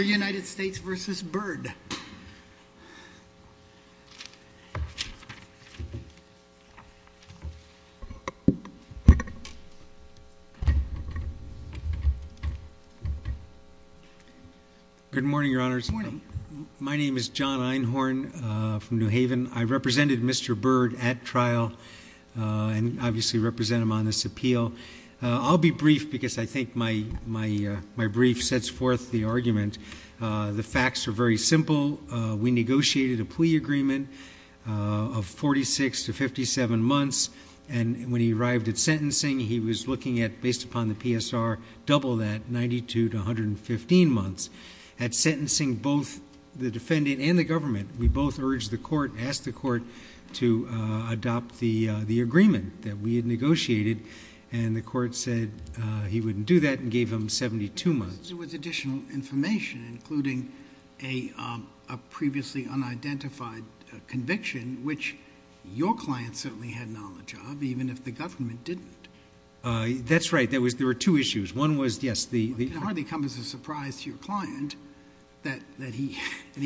United States v. Byrd. Good morning, Your Honors. My name is John Einhorn from New Haven. I represented Mr. Byrd at trial and obviously represent him on this appeal. I'll be brief because I think my brief sets forth the argument. The facts are very simple. We negotiated a plea agreement of 46 to 57 months, and when he arrived at sentencing, he was looking at, based upon the PSR, double that, 92 to 115 months. At sentencing, both the defendant and the government, we both urged the court, asked the court to adopt the agreement that we had agreed to. He wouldn't do that and gave him 72 months. There was additional information including a previously unidentified conviction, which your client certainly had knowledge of, even if the government didn't. That's right. There were two issues. One was, yes, the... It hardly comes as a surprise to your client that he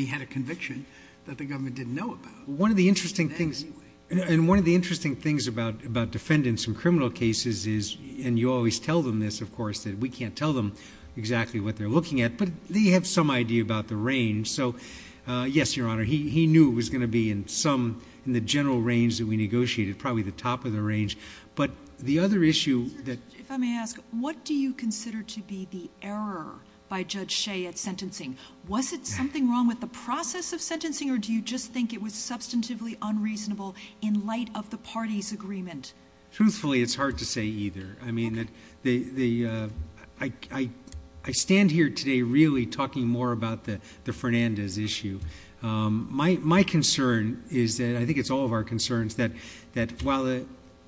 had a conviction that the government didn't know about. One of the interesting things... And one of the interesting things about defendants in criminal cases is, and you always tell them this, of course, that we can't tell them exactly what they're looking at, but they have some idea about the range. So, yes, Your Honor, he knew it was going to be in some... in the general range that we negotiated, probably the top of the range. But the other issue that... If I may ask, what do you consider to be the error by Judge Shea at sentencing? Was it something wrong with the process of sentencing or do you just think it was substantively unreasonable in light of the party's agreement? Truthfully, it's hard to say either. I mean that the... I stand here today really talking more about the Fernandez issue. My concern is that, I think it's all of our concerns, that while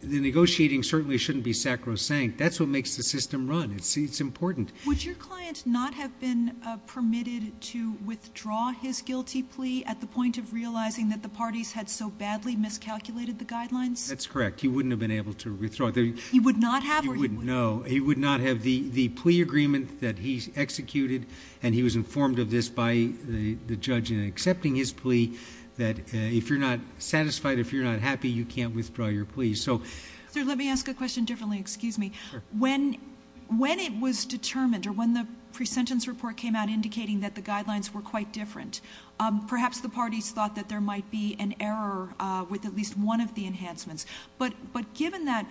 the negotiating certainly shouldn't be sacrosanct, that's what makes the system run. It's important. Would your client not have been permitted to withdraw his guilty plea at the point of realizing that the parties had so badly miscalculated the guidelines? That's correct. He wouldn't have been able to withdraw. He would not have? He wouldn't, no. He would not have. The plea agreement that he executed, and he was informed of this by the judge in accepting his plea, that if you're not satisfied, if you're not happy, you can't withdraw your plea. So... Sir, let me ask a question differently. Excuse me. When it was determined or when the parties thought that there might be an error with at least one of the enhancements, but given that,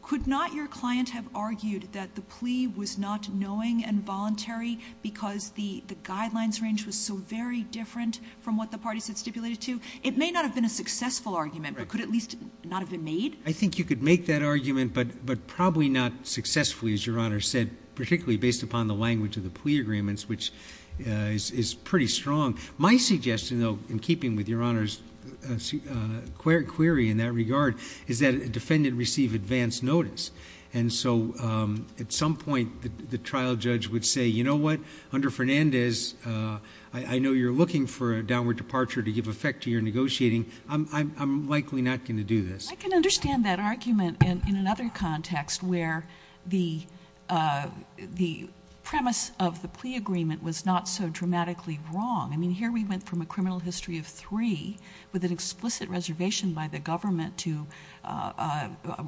could not your client have argued that the plea was not knowing and voluntary because the guidelines range was so very different from what the parties had stipulated to? It may not have been a successful argument, but could at least not have been made? I think you could make that argument, but probably not successfully, as Your Honor said, particularly based upon the language of the plea agreements, which is pretty strong. My suggestion, though, in keeping with Your Honor's query in that regard, is that a defendant receive advance notice. And so, at some point, the trial judge would say, you know what? Under Fernandez, I know you're looking for a downward departure to give effect to your negotiating. I'm likely not going to do this. I can understand that argument in another context where the premise of the plea agreement was not so dramatically wrong. I mean, here we went from a criminal history of three with an explicit reservation by the government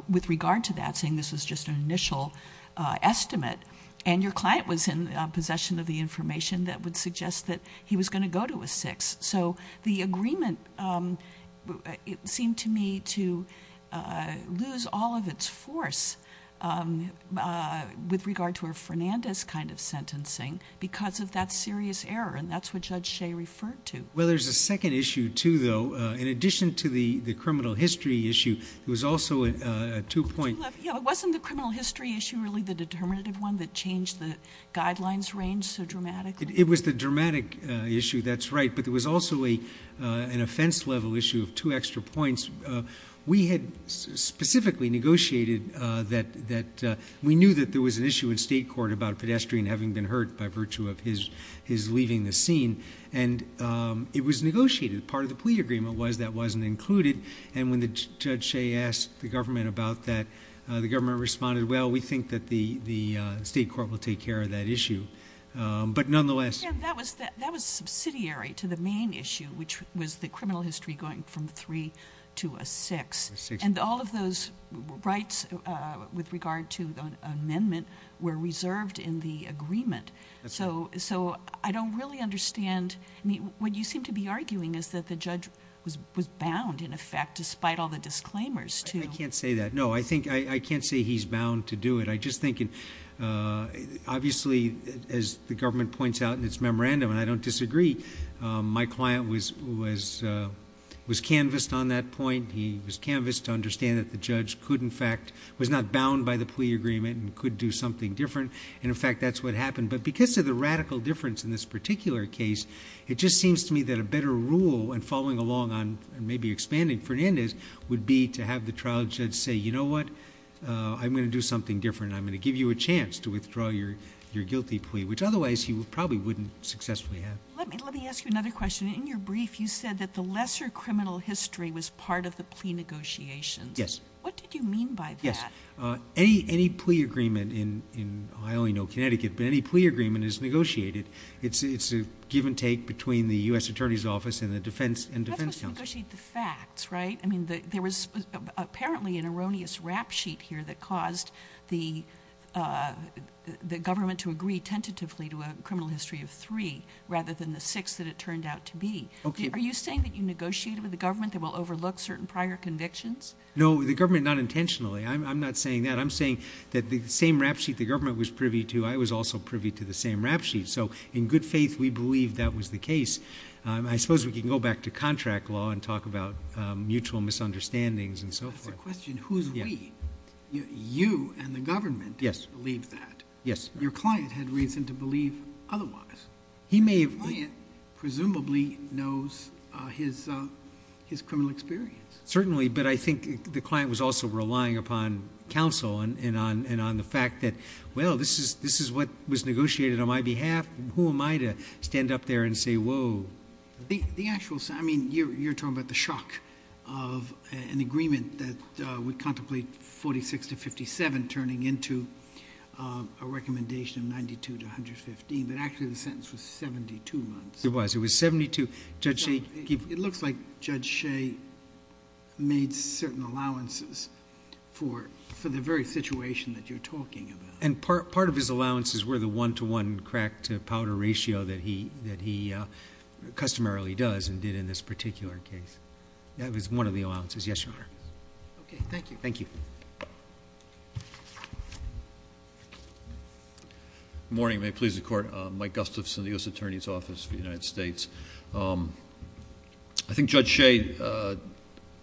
with regard to that, saying this was just an initial estimate, and your client was in possession of the information that would suggest that he was lose all of its force with regard to a Fernandez kind of sentencing because of that serious error, and that's what Judge Shea referred to. Well, there's a second issue, too, though. In addition to the criminal history issue, there was also a two-point... Yeah, but wasn't the criminal history issue really the determinative one that changed the guidelines range so dramatically? It was the dramatic issue, that's right, but there was also an offense-level issue of two extra points. We had specifically negotiated that... We knew that there was an issue in state court about a pedestrian having been hurt by virtue of his leaving the scene, and it was negotiated. Part of the plea agreement was that wasn't included, and when Judge Shea asked the government about that, the government responded, well, we think that the state court will take care of that issue, but nonetheless... Yeah, that was subsidiary to the main issue, which was the criminal history going from three to a six, and all of those rights with regard to the amendment were reserved in the agreement, so I don't really understand. I mean, what you seem to be arguing is that the judge was bound, in effect, despite all the disclaimers, too. I can't say that. No, I can't say he's bound to do it. I just think, obviously, as the government points out in its memorandum, and I don't disagree, my client was canvassed on that point. He was canvassed to understand that the judge could, in fact... Was not bound by the plea agreement and could do something different, and in fact, that's what happened, but because of the radical difference in this particular case, it just seems to me that a better rule in following along on, maybe expanding Fernandez, would be to have the trial judge say, you know what? I'm going to do something different, and I'm going to give you a chance to withdraw your guilty plea, which otherwise, he probably wouldn't successfully have. Let me ask you another question. In your brief, you said that the lesser criminal history was part of the plea negotiations. Yes. What did you mean by that? Yes. Any plea agreement in, I only know Connecticut, but any plea agreement is negotiated. It's a give and take between the U.S. Attorney's Office and the Defense Council. That's what negotiate the facts, right? I mean, there was apparently an erroneous rap sheet here that caused the government to agree tentatively to a criminal history of three, rather than the six that it turned out to be. Okay. Are you saying that you negotiated with the government that will overlook certain prior convictions? No, the government not intentionally. I'm not saying that. I'm saying that the same rap sheet the government was privy to, I was also privy to the same rap sheet. So, in good faith, we believe that was the case. I suppose we can go back to contract law and talk about mutual misunderstandings and so forth. That's the question. Who's we? You and the government believe that. Yes. Your client had reason to believe otherwise. The client presumably knows his criminal experience. Certainly, but I think the client was also relying upon counsel and on the fact that, well, this is what was negotiated on my behalf. Who am I to stand up and say, whoa? The actual, I mean, you're talking about the shock of an agreement that would contemplate 46 to 57 turning into a recommendation of 92 to 115, but actually the sentence was 72 months. It was. It was 72. It looks like Judge Shea made certain allowances for the very situation that you're talking about. And part of his allowances were the one-to-one crack-to-powder ratio that he customarily does and did in this particular case. That was one of the allowances. Yes, Your Honor. Okay. Thank you. Thank you. Good morning. May it please the Court. Mike Gustafson, the U.S. Attorney's Office for the United States. I think Judge Shea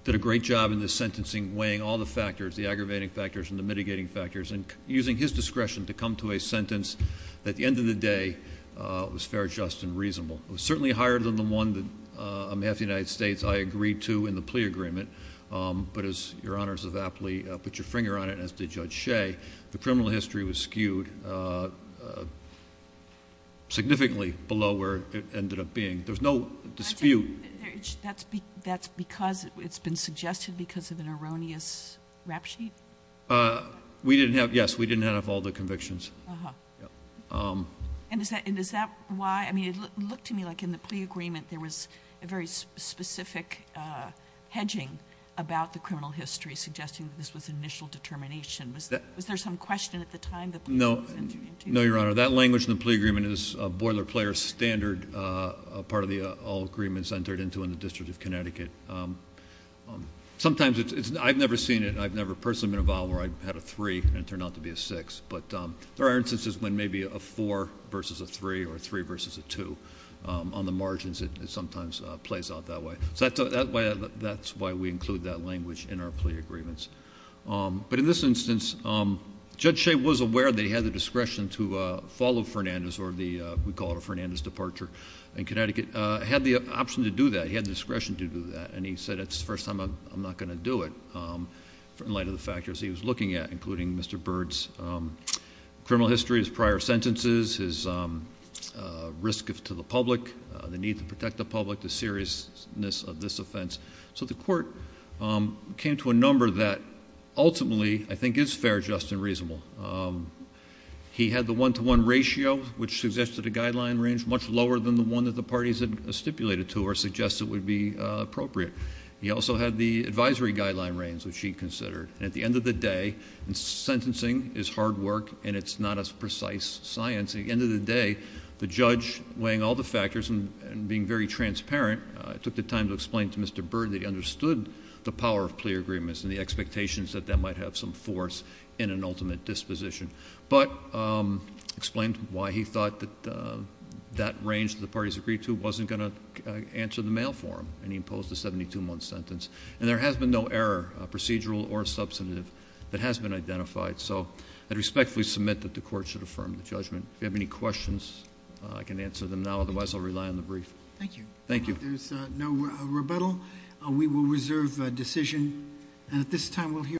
did a great job in this sentencing, weighing all the factors, the aggravating factors and the mitigating factors, and using his discretion to come to a sentence that at the end of the day was fair, just, and reasonable. It was certainly higher than the one that on behalf of the United States, I agreed to in the plea agreement. But as Your Honors have aptly put your finger on it, and as did Judge Shea, the criminal history was skewed significantly below where it ended up being. There's no dispute. That's because it's been suggested because of an Uh-huh. And is that, and is that why, I mean, it looked to me like in the plea agreement there was a very specific hedging about the criminal history, suggesting that this was initial determination. Was there some question at the time the plea was sent to you? No. No, Your Honor. That language in the plea agreement is a boiler player standard, a part of the all agreements entered into in the District of Connecticut. Sometimes it's, I've never seen it, I've never personally been involved where I had a three and it turned out to be a six, but there are instances when maybe a four versus a three or three versus a two. On the margins it sometimes plays out that way. So that's why we include that language in our plea agreements. But in this instance, Judge Shea was aware that he had the discretion to follow Fernandez or the, we call it a Fernandez departure in Connecticut, had the option to do that. He had the discretion to do that. And he said, it's the first time I'm not going to do it in light of the factors he was looking at, including Mr. Bird's criminal history, his prior sentences, his risk to the public, the need to protect the public, the seriousness of this offense. So the court came to a number that ultimately I think is fair, just, and reasonable. He had the one-to-one ratio, which suggested a guideline range much lower than the one that the parties had stipulated to or suggested would be appropriate. He also had the advisory guideline range, which he considered. And at the end of the day, and sentencing is hard work and it's not as precise science. At the end of the day, the judge weighing all the factors and being very transparent, took the time to explain to Mr. Bird that he understood the power of plea agreements and the expectations that that might have some force in an ultimate disposition. But explained why he thought that that range that the parties agreed wasn't going to answer the mail for him. And he imposed a 72-month sentence. And there has been no error, procedural or substantive, that has been identified. So I respectfully submit that the court should affirm the judgment. If you have any questions, I can answer them now. Otherwise, I'll rely on the brief. Thank you. Thank you. There's no rebuttal. We will reserve a decision. And at this time, we'll hear